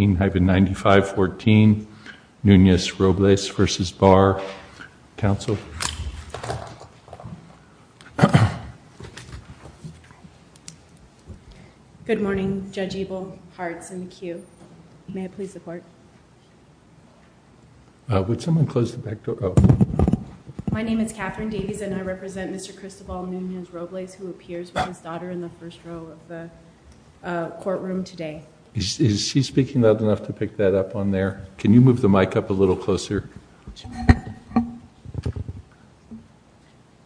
HB 95XXI, Nunez-Robles vs Barr, counsel Good morning, Judge Eble. May I please start? I repsent Mr. Cristobal Nunez-Robles, who appears with his daughter in the first row of the courtroom today. Is he speaking loud enough to pick that up on there? Can you move the mic up a little closer?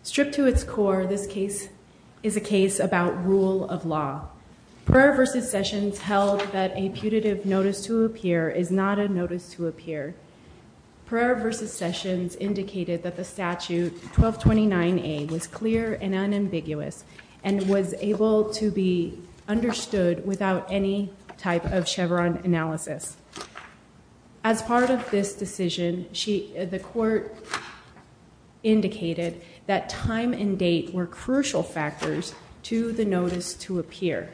Stripped to its core, this case is a case about rule of law. Pereira vs. Sessions held that a putative notice to appear is not a notice to appear. Pereira vs. Sessions indicated that the statute 1229A was clear and unambiguous and was able to be understood without any type of Chevron analysis. As part of this decision, the court indicated that time and date were crucial factors to the notice to appear.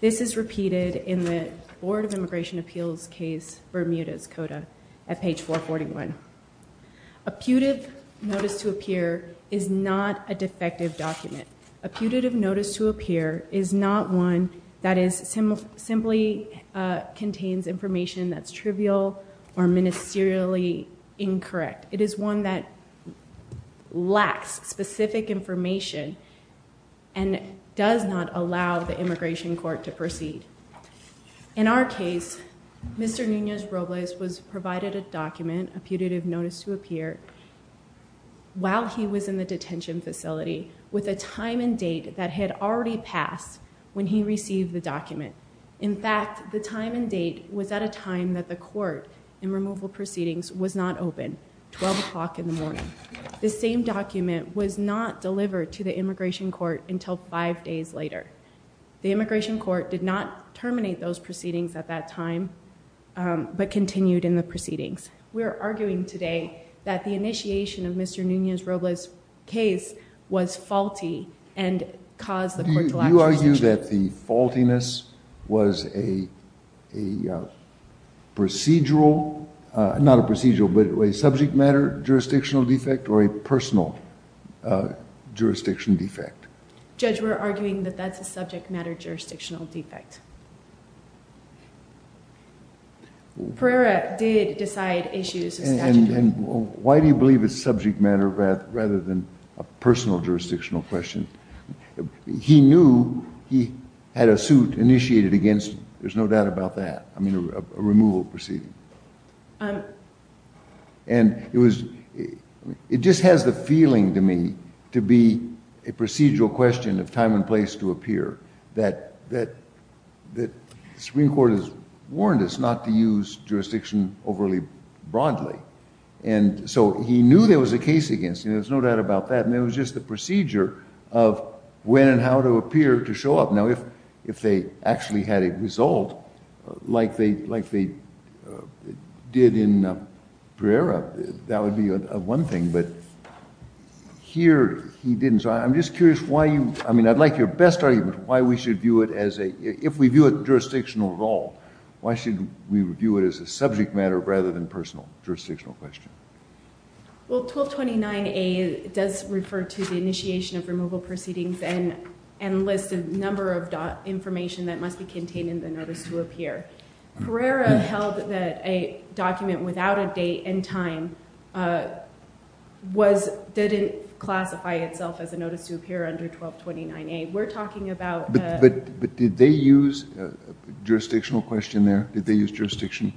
This is repeated in the Board of Immigration Appeals case, Bermuda's Coda, at page 441. A putative notice to appear is not a defective document. A putative notice to appear is not one that simply contains information that's trivial or ministerially incorrect. It is one that lacks specific information and does not allow the immigration court to proceed. In our case, Mr. Nunez-Robles was provided a document, a putative notice to appear, while he was in the detention facility with a time and date that had already passed when he received the document. In fact, the time and date was at a time that the court in removal proceedings was not open, 12 o'clock in the morning. The same document was not delivered to the immigration court until five days later. The immigration court did not terminate those proceedings at that time, but continued in the proceedings. We are arguing today that the initiation of Mr. Nunez-Robles was faulty and caused the court to lack jurisdiction. You argue that the faultiness was a procedural, not a procedural, but a subject matter jurisdictional defect or a personal jurisdiction defect? Judge, we're arguing that that's a subject matter jurisdictional defect. Pereira did decide issues of statutory. jurisdictional question. He knew he had a suit initiated against him. There's no doubt about that. I mean, a removal proceeding. And it was it just has the feeling to me to be a procedural question of time and place to appear that that that the Supreme Court has warned us not to use jurisdiction overly broadly. And so he knew there was a case against him. There's no doubt about that. And it was just the procedure of when and how to appear to show up. Now, if if they actually had a result like they like they did in Pereira, that would be one thing. But here he didn't. So I'm just curious why you I mean, I'd like your best argument why we should view it as a if we view it jurisdictional at all. Why should we view it as a subject matter rather than personal jurisdictional question? Well, 1229A does refer to the initiation of removal proceedings and and lists a number of information that must be contained in the notice to appear. Pereira held that a document without a date and time was didn't classify itself as a notice to appear under 1229A. We're talking about. But did they use a jurisdictional question there? Did they use jurisdiction?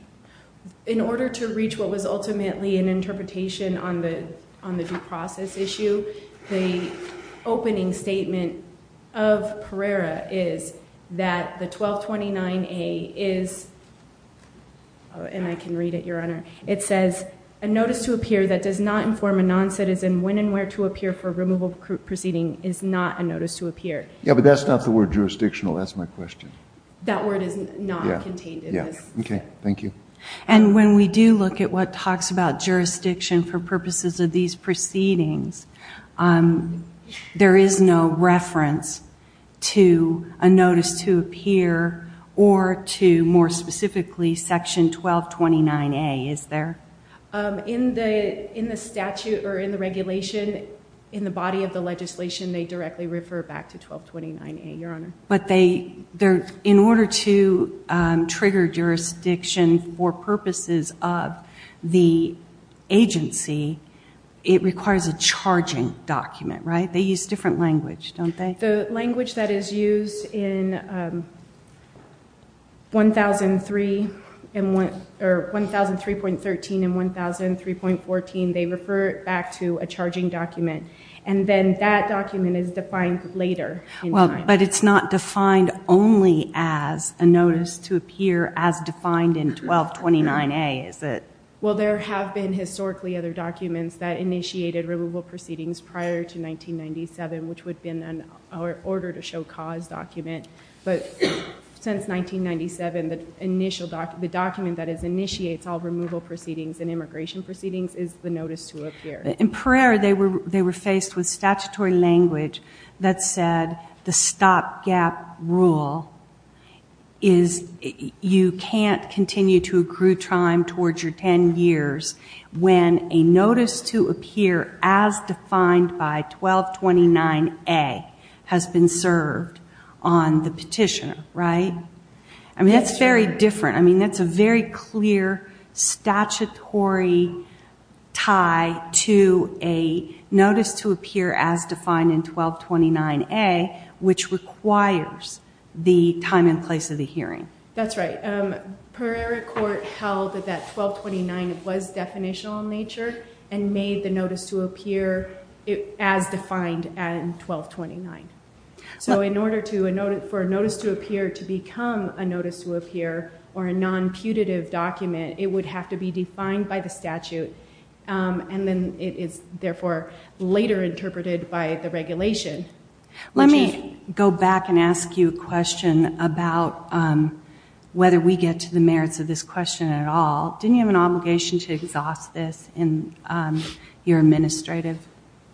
In order to reach what was ultimately an interpretation on the on the due process issue, the opening statement of Pereira is that the 1229A is. And I can read it, Your Honor. It says a notice to appear that does not inform a non-citizen when and where to appear for removal proceeding is not a notice to appear. Yeah, but that's not the word jurisdictional. That's my question. That word is not contained. OK, thank you. And when we do look at what talks about jurisdiction for purposes of these proceedings, there is no reference to a notice to appear or to more specifically Section 1229A, is there? In the in the statute or in the regulation, in the body of the legislation, they directly refer back to 1229A, Your Honor. But they they're in order to trigger jurisdiction for purposes of the agency, it requires a charging document, right? They use different language, don't they? The language that is used in 1003 and or 1003.13 and 1003.14, they refer back to a charging document. And then that document is defined later. Well, but it's not defined only as a notice to appear as defined in 1229A, is it? Well, there have been historically other documents that initiated removal proceedings prior to 1997, which would have been an order to show cause document. But since 1997, the initial document, the document that is initiates all removal proceedings and immigration proceedings is the notice to appear. In Pereira, they were they were faced with statutory language that said the stopgap rule is you can't continue to accrue time towards your 10 years when a notice to appear as defined by 1229A has been served on the petitioner, right? I mean, that's very different. I mean, that's a very clear statutory tie to a notice to appear as defined in 1229A, which requires the time and place of the hearing. That's right. Pereira court held that 1229 was definitional in nature and made the notice to appear as defined at 1229. So in order to a notice for a notice to appear to become a notice to appear or a non putative document, it would have to be defined by the statute, and then it is therefore later interpreted by the regulation. Let me go back and ask you a question about whether we get to the merits of this question at all. Didn't you have an obligation to exhaust this in your administrative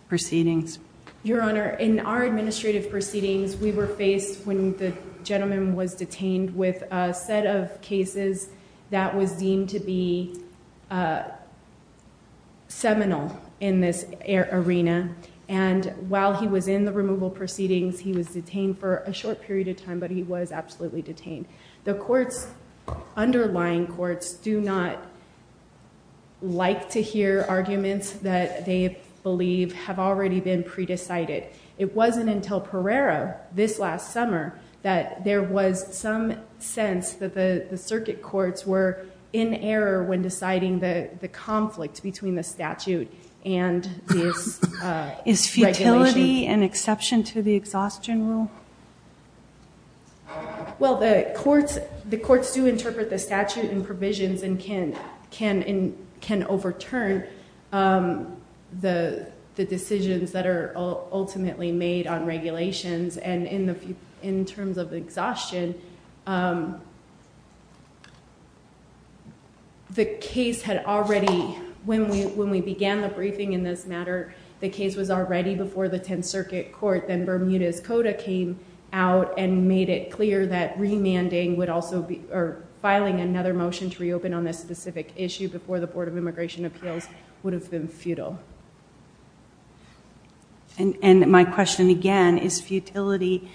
proceedings? Your Honor, in our administrative proceedings, we were faced when the gentleman was detained with a set of cases that was deemed to be seminal in this arena. And while he was in the removal proceedings, he was detained for a short period of time, but he was absolutely detained. The court's underlying courts do not like to hear arguments that they believe have already been pre-decided. It wasn't until Pereira this last summer that there was some sense that the circuit courts were in error when deciding the conflict between the statute and this. Is futility an exception to the exhaustion rule? Well, the courts, the courts do interpret the statute and provisions and can overturn the decisions that are ultimately made on regulations and in terms of exhaustion. The case had already, when we began the briefing in this matter, the case was already before the 10th Circuit Court. Then Bermudez-Cota came out and made it clear that remanding would also be or filing another motion to reopen on this specific issue before the Board of Immigration Appeals would have been futile. And my question again, is futility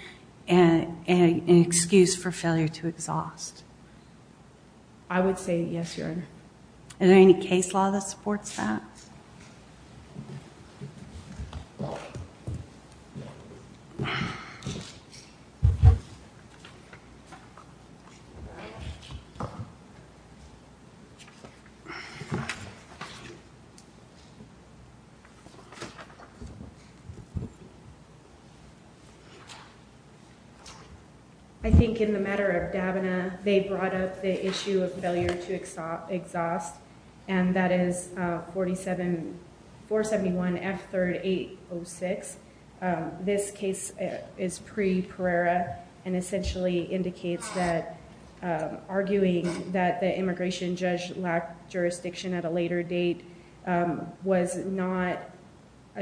an excuse for failure to exhaust? I would say yes, Your Honor. Is there any case law that supports that? I think in the matter of Davina, they brought up the issue of failure to exhaust. And that is 47-471-F3806. This case is pre-Pereira and essentially indicates that arguing that the immigration judge lacked jurisdiction at a later date was not,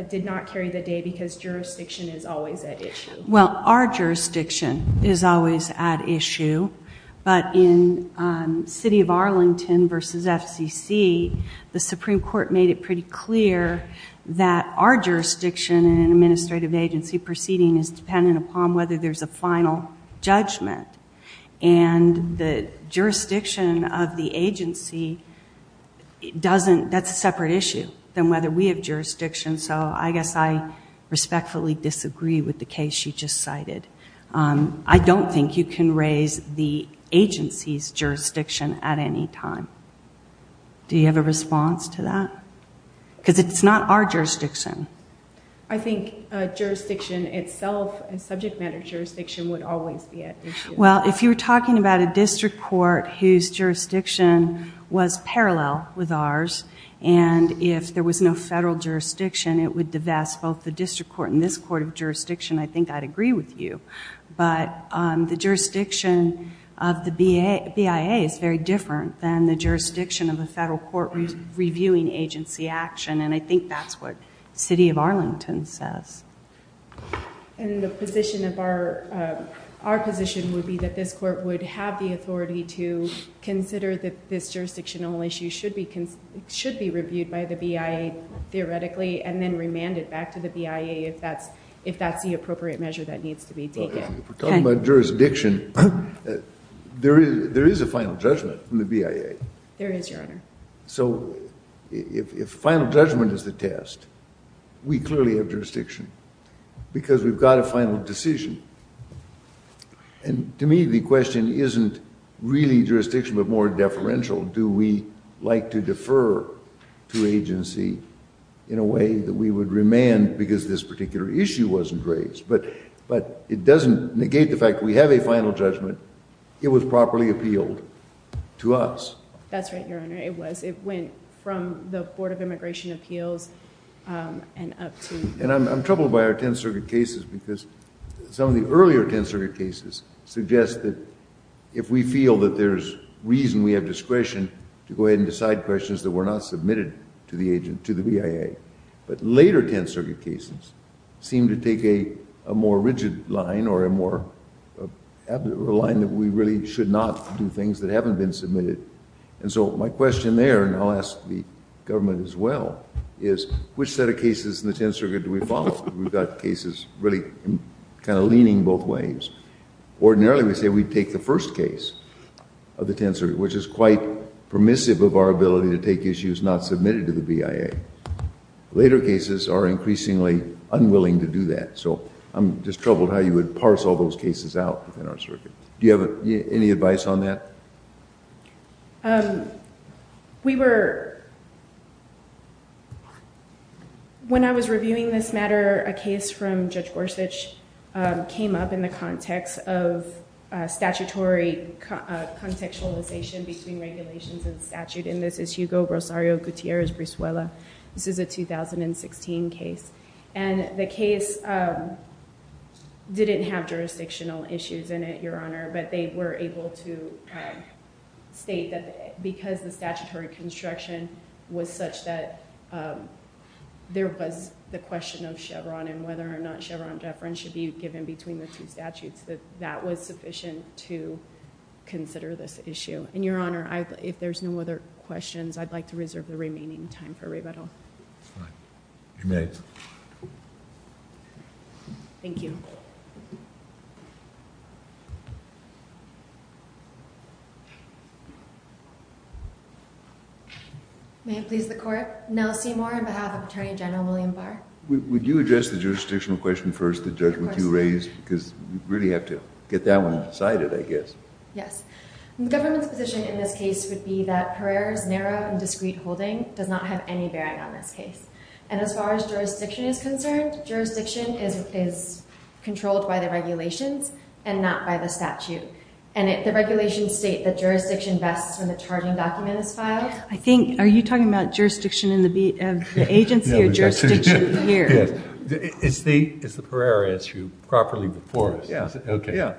did not carry the day because jurisdiction is always at issue. Well, our jurisdiction is always at issue. But in City of Arlington versus FCC, the Supreme Court made it pretty clear that our jurisdiction in an administrative agency proceeding is dependent upon whether there's a final judgment. And the jurisdiction of the agency doesn't, that's a separate issue than whether we have jurisdiction. So I guess I respectfully disagree with the case you just cited. I don't think you can raise the agency's jurisdiction at any time. Do you have a response to that? Because it's not our jurisdiction. I think jurisdiction itself, subject matter jurisdiction would always be at issue. Well, if you were talking about a district court whose jurisdiction was parallel with ours, and if there was no federal jurisdiction, it would divest both the district court and this court of jurisdiction, I think I'd agree with you. But the jurisdiction of the BIA is very different than the jurisdiction of a federal court reviewing agency action. And I think that's what City of Arlington says. And the position of our, our position would be that this court would have the authority to consider that this jurisdictional issue should be, should be reviewed by the BIA theoretically, and then remand it back to the BIA if that's, if that's the appropriate measure that needs to be taken. If we're talking about jurisdiction, there is a final judgment from the BIA. There is, Your Honor. So if final judgment is the test, we clearly have jurisdiction because we've got a final decision. And to me, the question isn't really jurisdiction, but more deferential. Do we like to defer to agency in a way that we would remand because this particular issue wasn't raised? But, but it doesn't negate the fact we have a final judgment. It was properly appealed to us. That's right, Your Honor. It was, it went from the Board of Immigration Appeals and up to... And I'm troubled by our Tenth Circuit cases because some of the earlier Tenth Circuit cases suggest that if we feel that there's reason, we have discretion to go ahead and decide questions that were not submitted to the agent, to the BIA. But later Tenth Circuit cases seem to take a more rigid line or a more, a line that we really should not do things that haven't been submitted. And so my question there, and I'll ask the government as well, is which set of cases in the Tenth Circuit do we follow? We've got cases really kind of leaning both ways. Ordinarily, we say we take the first case of the Tenth Circuit, which is quite permissive of our ability to take issues not submitted to the BIA. Later cases are increasingly unwilling to do that. So I'm just troubled how you would parse all those cases out within our circuit. Do you have any advice on that? We were, when I was reviewing this matter, a case from Judge Gorsuch came up in the context of statutory contextualization between regulations and statute. And this is Hugo Rosario Gutierrez-Brisuela. This is a 2016 case. And the case didn't have jurisdictional issues in it, Your Honor, but they were able to state that because the statutory construction was such that there was the question of Chevron and whether or not Chevron deference should be given between the two statutes, that that was sufficient to consider this issue. And Your Honor, if there's no other questions, I'd like to reserve the remaining time for rebuttal. You may. Thank you. May it please the court. Nell Seymour on behalf of Attorney General William Barr. Would you address the jurisdictional question first, the judgment you raised? Because we really have to get that one decided, I guess. Yes. The government's position in this case would be that Pereira's narrow and discreet holding does not have any bearing on this case. And as far as jurisdiction is concerned, jurisdiction is And the regulations state that jurisdiction vests when the charging document is filed. I think, are you talking about jurisdiction in the agency or jurisdiction here? Yes. Is the Pereira issue properly before us? Yeah. OK. Yeah.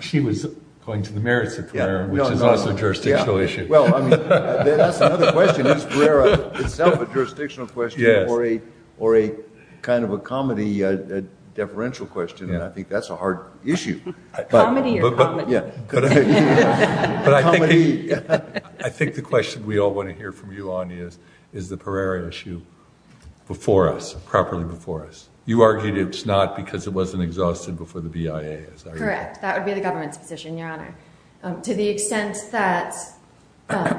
She was going to the merits of Pereira, which is also a jurisdictional issue. Well, I mean, that's another question. Is Pereira itself a jurisdictional question or a or a kind of a comedy deferential question? And I think that's a hard issue. Comedy or comedy? But I think I think the question we all want to hear from you on is, is the Pereira issue before us, properly before us? You argued it's not because it wasn't exhausted before the BIA. Correct. That would be the government's position, Your Honor. To the extent that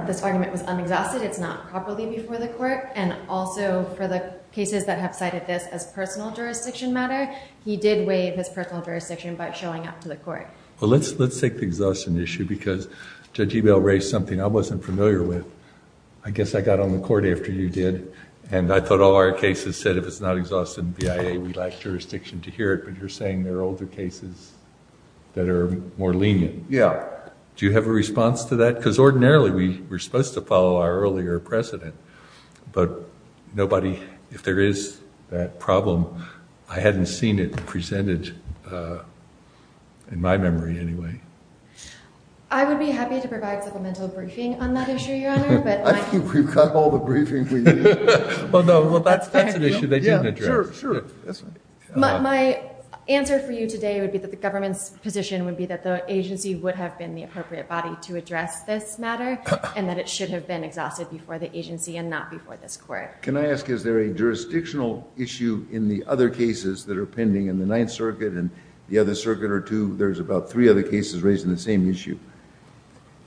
this argument was unexhausted, it's not properly before the court. And also for the cases that have cited this as personal jurisdiction matter. He did waive his personal jurisdiction by showing up to the court. Well, let's let's take the exhaustion issue, because Judge Ebel raised something I wasn't familiar with. I guess I got on the court after you did. And I thought all our cases said if it's not exhausted in BIA, we lack jurisdiction to hear it. But you're saying there are older cases that are more lenient. Yeah. Do you have a response to that? Because ordinarily we were supposed to follow our earlier precedent. But nobody, if there is that problem, I hadn't seen it presented in my memory anyway. I would be happy to provide supplemental briefing on that issue, Your Honor. But I think we've got all the briefing we need. Well, no. Well, that's that's an issue they didn't address. Sure. Sure. That's right. My answer for you today would be that the government's position would be that the agency would have been the appropriate body to address this matter and that it should have been exhausted before the agency and not before this court. Can I ask, is there a jurisdictional issue in the other cases that are pending in the Ninth Circuit and the other circuit or two? There's about three other cases raising the same issue.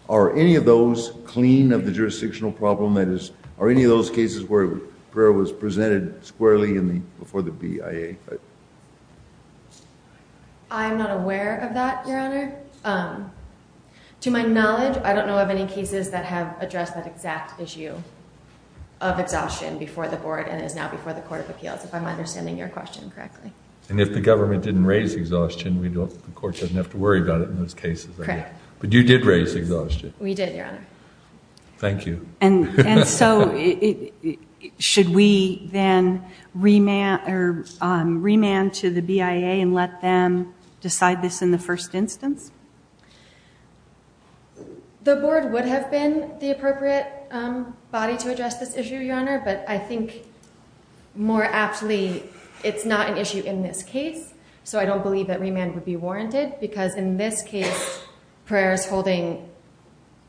Are any of those clean of the jurisdictional problem? That is, are any of those cases where prayer was presented squarely in the before the BIA? I'm not aware of that, Your Honor. To my knowledge, I don't know of any cases that have addressed that exact issue of exhaustion before the board and is now before the Court of Appeals, if I'm understanding your question correctly. And if the government didn't raise exhaustion, the court doesn't have to worry about it in those cases. Correct. But you did raise exhaustion. We did, Your Honor. Thank you. And so should we then remand to the BIA and let them decide this in the first instance? The board would have been the appropriate body to address this issue, Your Honor, but I think more aptly, it's not an issue in this case. So I don't believe that remand would be warranted because in this case, prayer's holding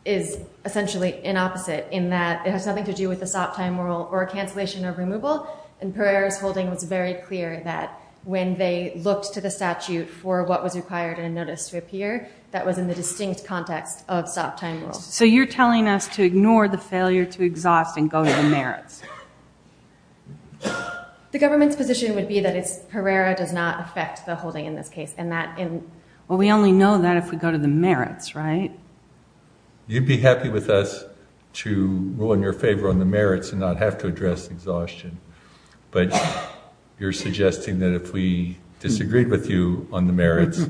is essentially an opposite in that it has nothing to do with the stop time rule or cancellation of removal. And prayer's holding was very clear that when they looked to the statute for what was required in a notice to appear, that was in the distinct context of stop time rules. So you're telling us to ignore the failure to exhaust and go to the merits? The government's position would be that it's Herrera does not affect the holding in this case and that in... Well, we only know that if we go to the merits, right? You'd be happy with us to rule in your favor on the merits and not have to address exhaustion. But you're suggesting that if we disagreed with you on the merits,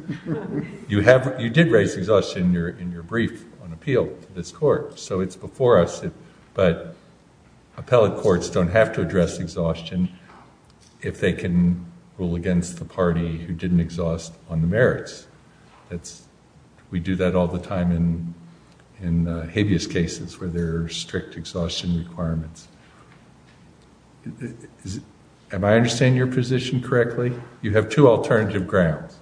you did raise exhaustion in your brief on appeal to this court. So it's before us, but appellate courts don't have to address exhaustion if they can rule against the party who didn't exhaust on the merits. We do that all the time in habeas cases where there are strict exhaustion requirements. Am I understanding your position correctly? You have two alternative grounds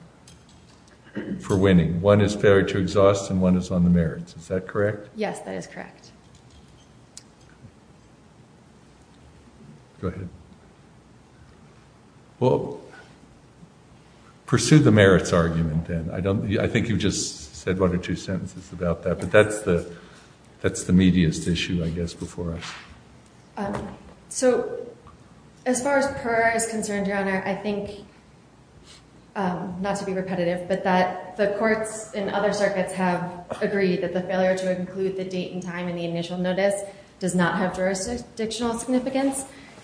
for winning. One is failure to exhaust and one is on the merits. Is that correct? Yes, that is correct. Go ahead. Well, pursue the merits argument then. I think you've just said one or two sentences about that, but that's the meatiest issue, I guess, before us. So as far as Herrera is concerned, Your Honour, I think, not to be repetitive, but that the courts in other circuits have agreed that the failure to include the date and time in the initial notice does not have jurisdictional significance.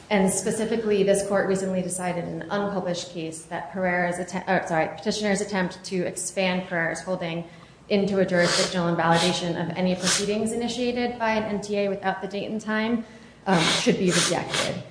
And specifically, this court recently decided in an unpublished case that Petitioner's attempt to expand Herrera's holding into a jurisdictional invalidation of any proceedings initiated by an NTA without the date and time should be rejected.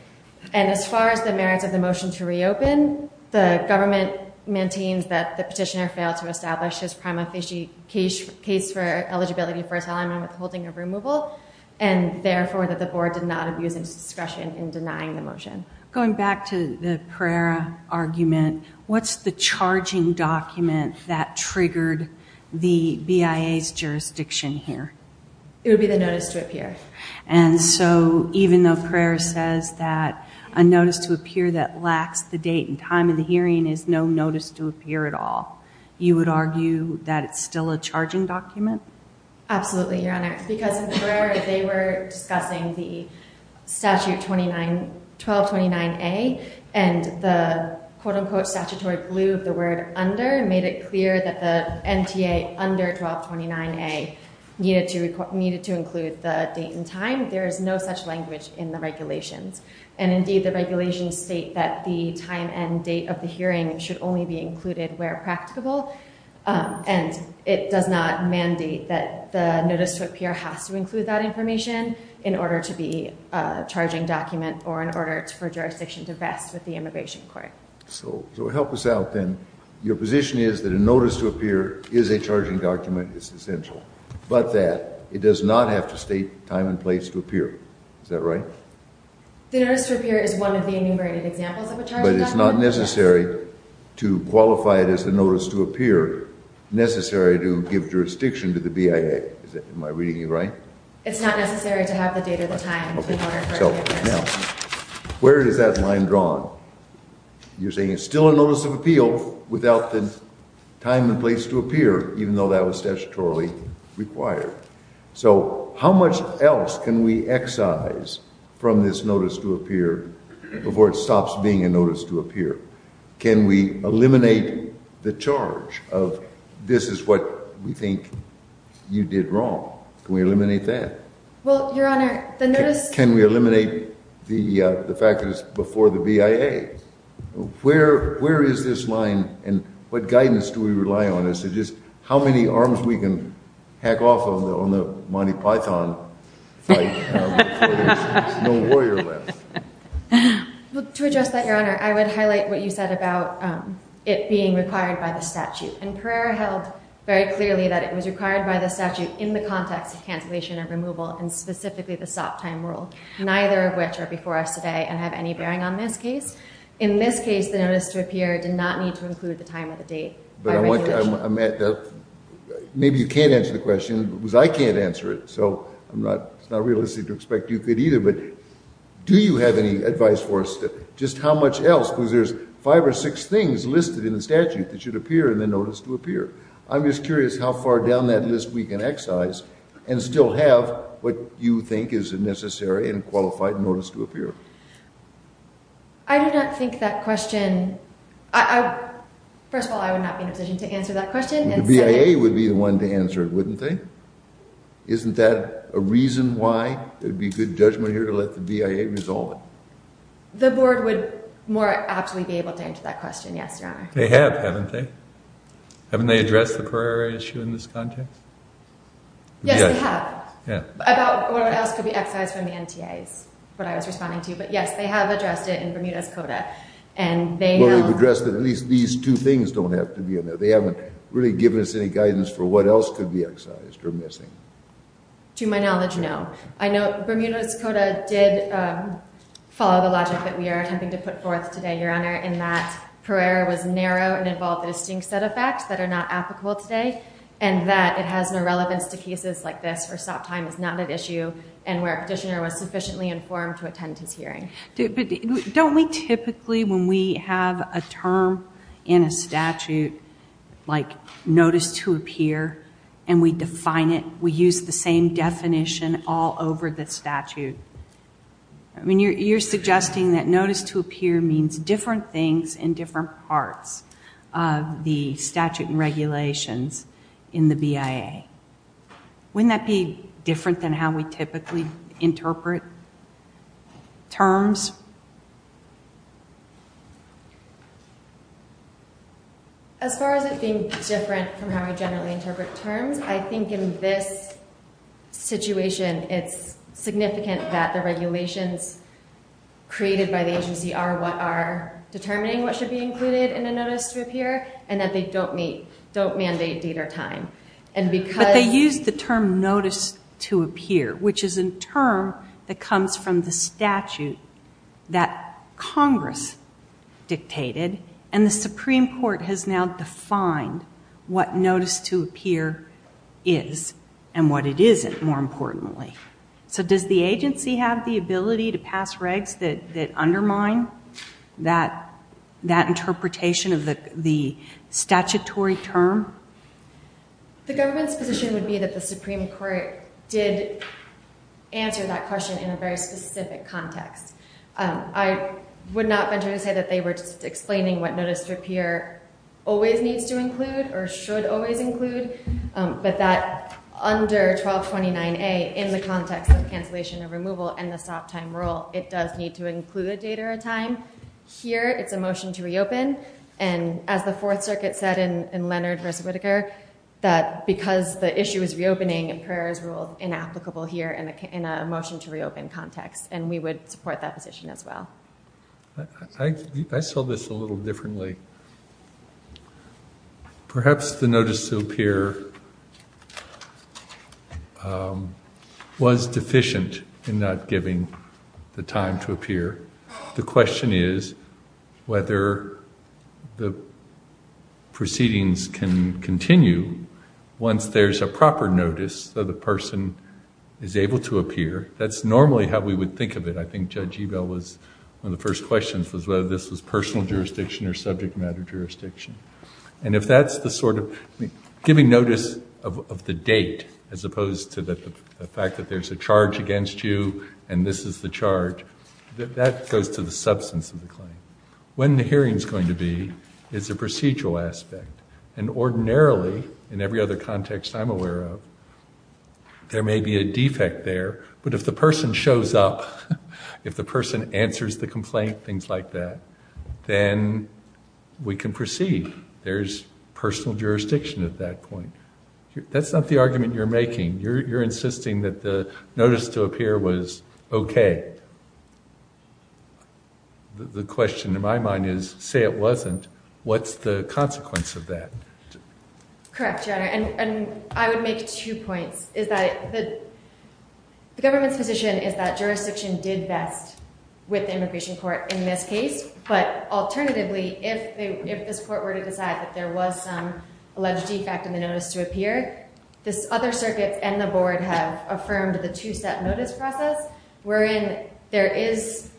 And as far as the merits of the motion to reopen, the government maintains that the Petitioner failed to establish his prima facie case for eligibility for asylum and withholding of removal and therefore that the board did not abuse its discretion in denying the motion. Going back to the Herrera argument, what's the charging document that triggered the BIA's jurisdiction here? It would be the notice to appear. And so even though Herrera says that a notice to appear that lacks the date and time of the hearing is no notice to appear at all, you would argue that it's still a charging document? Absolutely, Your Honour, because in Herrera, they were discussing the Statute 1229A and the quote-unquote statutory glue of the word under made it clear that the NTA under 1229A needed to include the date and time. There is no such language in the regulations. And indeed, the regulations state that the time and date of the hearing should only be included where practicable. And it does not mandate that the notice to appear has to include that information in order to be a charging document or in order for jurisdiction to vest with the Immigration Court. So help us out then. Your position is that a notice to appear is a charging document. It's essential. But that it does not have to state time and place to appear. Is that right? The notice to appear is one of the enumerated examples of a charging document. But it's not necessary to qualify it as the notice to appear, necessary to give jurisdiction to the BIA. Am I reading you right? It's not necessary to have the date or the time in order for it to exist. Now, where is that line drawn? without the time and place to appear, even though that was statutorily required. So how much else can we excise from this notice to appear before it stops being a notice to appear? Can we eliminate the charge of this is what we think you did wrong? Can we eliminate that? Well, Your Honor, the notice to appear... Can we eliminate the fact that it's before the BIA? Where is this line and what guidance do we rely on as to just how many arms we can hack off on the Monty Python fight before there's no warrior left? Well, to address that, Your Honor, I would highlight what you said about it being required by the statute. And Pereira held very clearly that it was required by the statute in the context of cancellation of removal and specifically the stop time rule, neither of which are before us today and have any bearing on this case. In this case, the notice to appear did not need to include the time or the date. But I want to... Maybe you can't answer the question because I can't answer it. So it's not realistic to expect you could either. But do you have any advice for us, just how much else? Because there's five or six things listed in the statute that should appear in the notice to appear. I'm just curious how far down that list we can excise and still have what you think is a necessary and qualified notice to appear. I do not think that question... First of all, I would not be in a position to answer that question. The BIA would be the one to answer it, wouldn't they? Isn't that a reason why there'd be good judgment here to let the BIA resolve it? The board would more aptly be able to answer that question, yes, Your Honor. They have, haven't they? Haven't they addressed the Pereira issue in this context? Yes, they have. About what else could be excised from the NTIs, what I was responding to. But yes, they have addressed it in Bermuda's CODA. Well, they've addressed it. At least these two things don't have to be in there. They haven't really given us any guidance for what else could be excised or missing. To my knowledge, no. I note Bermuda's CODA did follow the logic that we are attempting to put forth today, Your Honor, in that Pereira was narrow and involved a distinct set of facts that are not applicable today and that it has no relevance to cases like this where stop time is not an issue and where a petitioner was sufficiently informed to attend his hearing. But don't we typically, when we have a term in a statute like notice to appear and we define it, we use the same definition all over the statute? I mean, you're suggesting that notice to appear means different things in different parts of the statute and regulations in the BIA. Wouldn't that be different than how we typically interpret terms? As far as it being different from how we generally interpret terms, I think in this situation it's significant that the regulations created by the agency are what are determining what should be included in a notice to appear and that they don't mandate date or time. But they use the term notice to appear, which is a term that comes from the statute that Congress dictated and the Supreme Court has now defined what notice to appear is and what it isn't, more importantly. So does the agency have the ability to pass regs that undermine that interpretation of the statutory term? The government's position would be that the Supreme Court did answer that question in a very specific context. I would not venture to say that they were just explaining what notice to appear always needs to include or should always include, but that under 1229A in the context of cancellation of removal and the stop time rule, it does need to include a date or a time. Here, it's a motion to reopen, and as the Fourth Circuit said in Leonard v. Whitaker, that because the issue is reopening and prayer is ruled inapplicable here in a motion to reopen context, and we would support that position as well. I saw this a little differently. Perhaps the notice to appear was deficient in not giving the time to appear. The question is whether the proceedings can continue once there's a proper notice that a person is able to appear. That's normally how we would think of it. I think Judge Ebel was one of the first questions was whether this was personal jurisdiction or subject matter jurisdiction. And if that's the sort of giving notice of the date as opposed to the fact that there's a charge against you and this is the charge, that goes to the substance of the claim. When the hearing's going to be is a procedural aspect, and ordinarily, in every other context I'm aware of, there may be a defect there, but if the person shows up, if the person answers the complaint, things like that, then we can proceed. There's personal jurisdiction at that point. That's not the argument you're making. You're insisting that the notice to appear was okay. The question in my mind is, say it wasn't, what's the consequence of that? Correct, Your Honor, and I would make two points. Is that the government's position is that jurisdiction did best with the immigration court in this case. But alternatively, if this court were to decide that there was some alleged defect in the notice to appear, this other circuit and the board have affirmed the two-step notice process, wherein there is,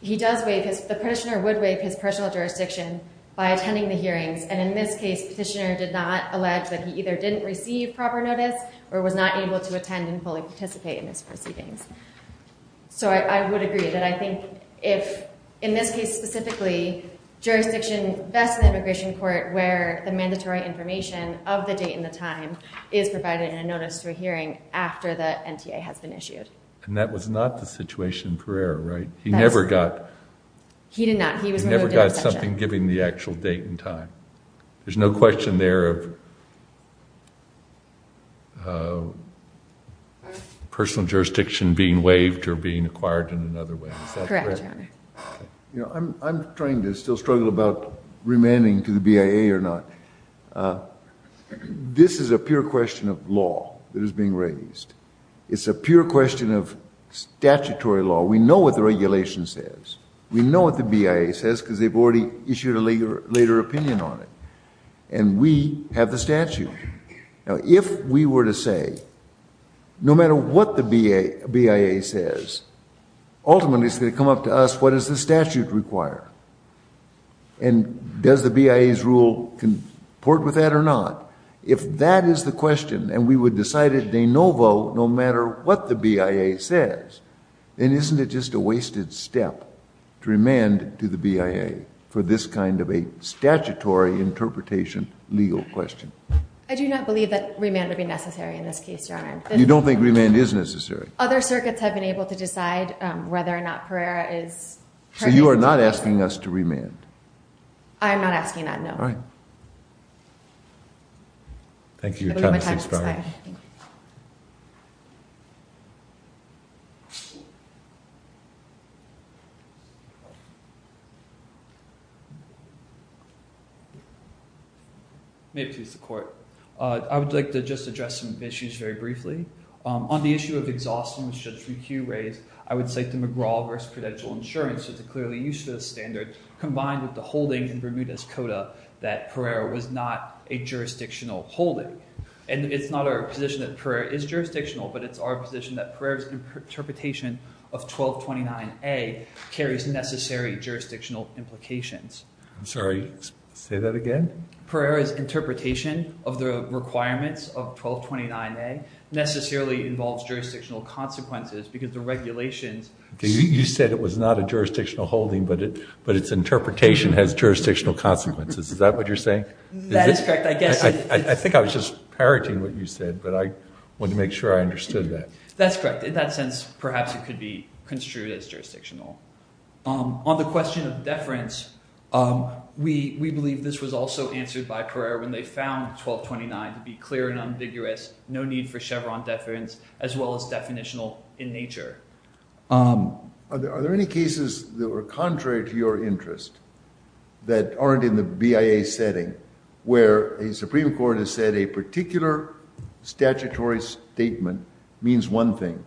he does waive his, the petitioner would waive his personal jurisdiction by attending the hearings, and in this case, petitioner did not allege that he either didn't receive proper notice or was not able to attend and fully participate in this proceedings. So I would agree that I think if, in this case specifically, jurisdiction best in the immigration court where the mandatory information of the date and the time is provided in a notice to a hearing after the NTA has been issued. And that was not the situation for error, right? He never got. He did not. He was removed in absentia. He never got something given the actual date and time. There's no question there of personal jurisdiction being waived or being acquired in another way. Correct, Your Honor. You know, I'm trying to still struggle about remanding to the BIA or not. This is a pure question of law that is being raised. It's a pure question of statutory law. We know what the regulation says. We know what the BIA says because they've already issued a later opinion on it. And we have the statute. Now, if we were to say, no matter what the BIA says, ultimately it's going to come up to us what does the statute require and does the BIA's rule comport with that or not? If that is the question and we would decide it de novo no matter what the BIA says, then isn't it just a wasted step to remand to the BIA for this kind of a statutory interpretation legal question? I do not believe that remand would be necessary in this case, Your Honor. You don't think remand is necessary? Other circuits have been able to decide whether or not Pereira is. So, you are not asking us to remand? I'm not asking that, no. All right. Thank you for your time, Ms. Inspiro. May it please the court. I would like to just address some issues very briefly. On the issue of exhaustion which Judge McHugh raised, I would cite the McGraw v. Credential Insurance. It's clearly used for the standard combined with the holdings in Bermuda's Coda that Pereira was not a jurisdictional holding. And it's not our position that Pereira is jurisdictional, but it's our position that Pereira's interpretation of 1229A carries necessary jurisdictional implications. I'm sorry, say that again? Pereira's interpretation of the requirements of 1229A necessarily involves jurisdictional consequences because the regulations. You said it was not a jurisdictional holding, but its interpretation has jurisdictional consequences. Is that what you're saying? That is correct. I guess. I think I was just parroting what you said, but I wanted to make sure I understood that. That's correct. In that sense, perhaps it could be construed as jurisdictional. On the question of deference, we believe this was also answered by Pereira when they found 1229 to be clear and unvigorous, no need for Chevron deference, as well as definitional in nature. Are there any cases that were contrary to your interest that aren't in the BIA setting where a Supreme Court has said a particular statutory statement means one thing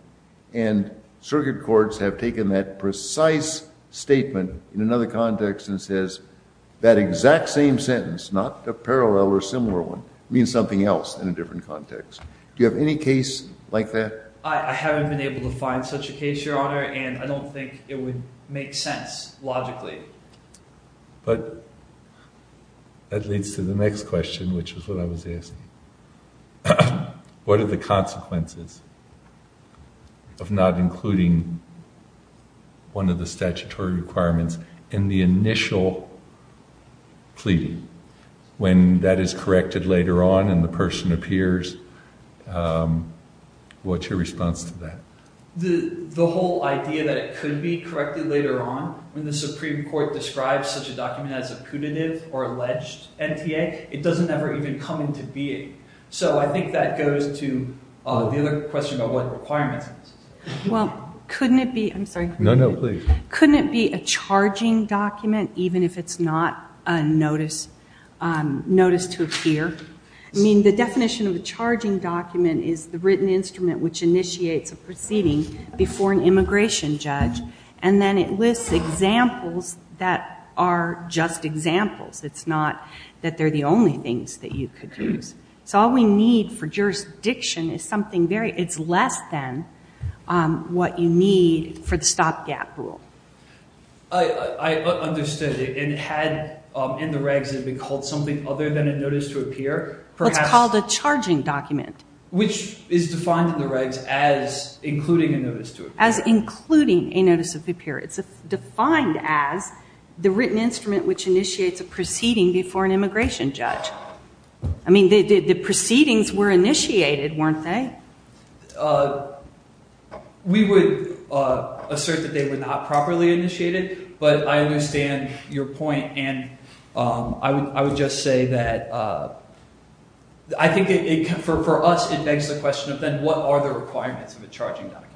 and circuit courts have taken that precise statement in another context and says that exact same sentence, not a parallel or similar one, means something else in a different context? Do you have any case like that? I haven't been able to find such a case, Your Honor, and I don't think it would make sense logically. But that leads to the next question, which is what I was asking. What are the consequences of not including one of the statutory requirements in the initial plea when that is corrected later on and the person appears? What's your response to that? The whole idea that it could be corrected later on when the Supreme Court describes such a document as a punitive or alleged NTA, it doesn't ever even come into being. So I think that goes to the other question about what requirements. Well, couldn't it be, I'm sorry. No, no, please. Couldn't it be a charging document even if it's not a notice to appear? I mean, the definition of a charging document is the written instrument which initiates a proceeding before an immigration judge. And then it lists examples that are just examples. It's not that they're the only things that you could use. So all we need for jurisdiction is something very, it's less than what you need for the stopgap rule. I understand it. And had in the regs it been called something other than a notice to appear? It's called a charging document. Which is defined in the regs as including a notice to appear. As including a notice to appear. It's defined as the written instrument which initiates a proceeding before an immigration judge. I mean, the proceedings were initiated, weren't they? We would assert that they were not properly initiated. But I understand your point. And I would just say that I think for us it begs the question of then what are the requirements of a charging document?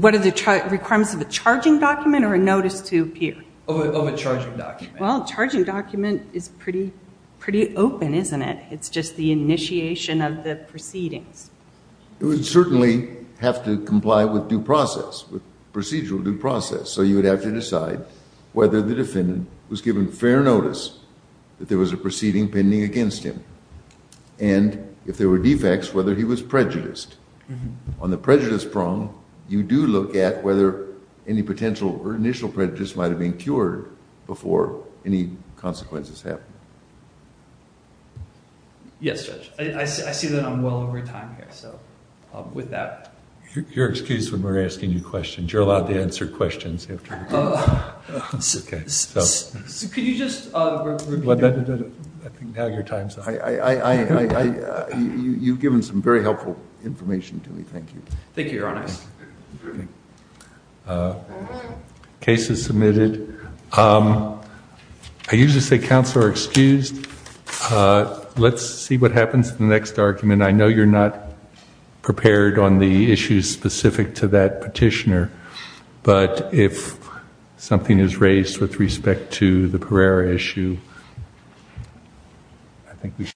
What are the requirements of a charging document or a notice to appear? Of a charging document. Well, a charging document is pretty open, isn't it? It's just the initiation of the proceedings. It would certainly have to comply with due process, with procedural due process. So you would have to decide whether the defendant was given fair notice that there was a proceeding pending against him. And if there were defects, whether he was prejudiced. On the prejudice prong, you do look at whether any potential or initial prejudice might have been cured before any consequences happened. Yes, Judge. I see that I'm well over time here. So with that. You're excused when we're asking you questions. You're allowed to answer questions after. It's okay. Could you just repeat the question? I think now your time's up. You've given some very helpful information to me. Thank you. Thank you, Your Honor. Case is submitted. I usually say counsel are excused. Let's see what happens in the next argument. I know you're not prepared on the issues specific to that petitioner. But if something is raised with respect to the Pereira issue, I think we should.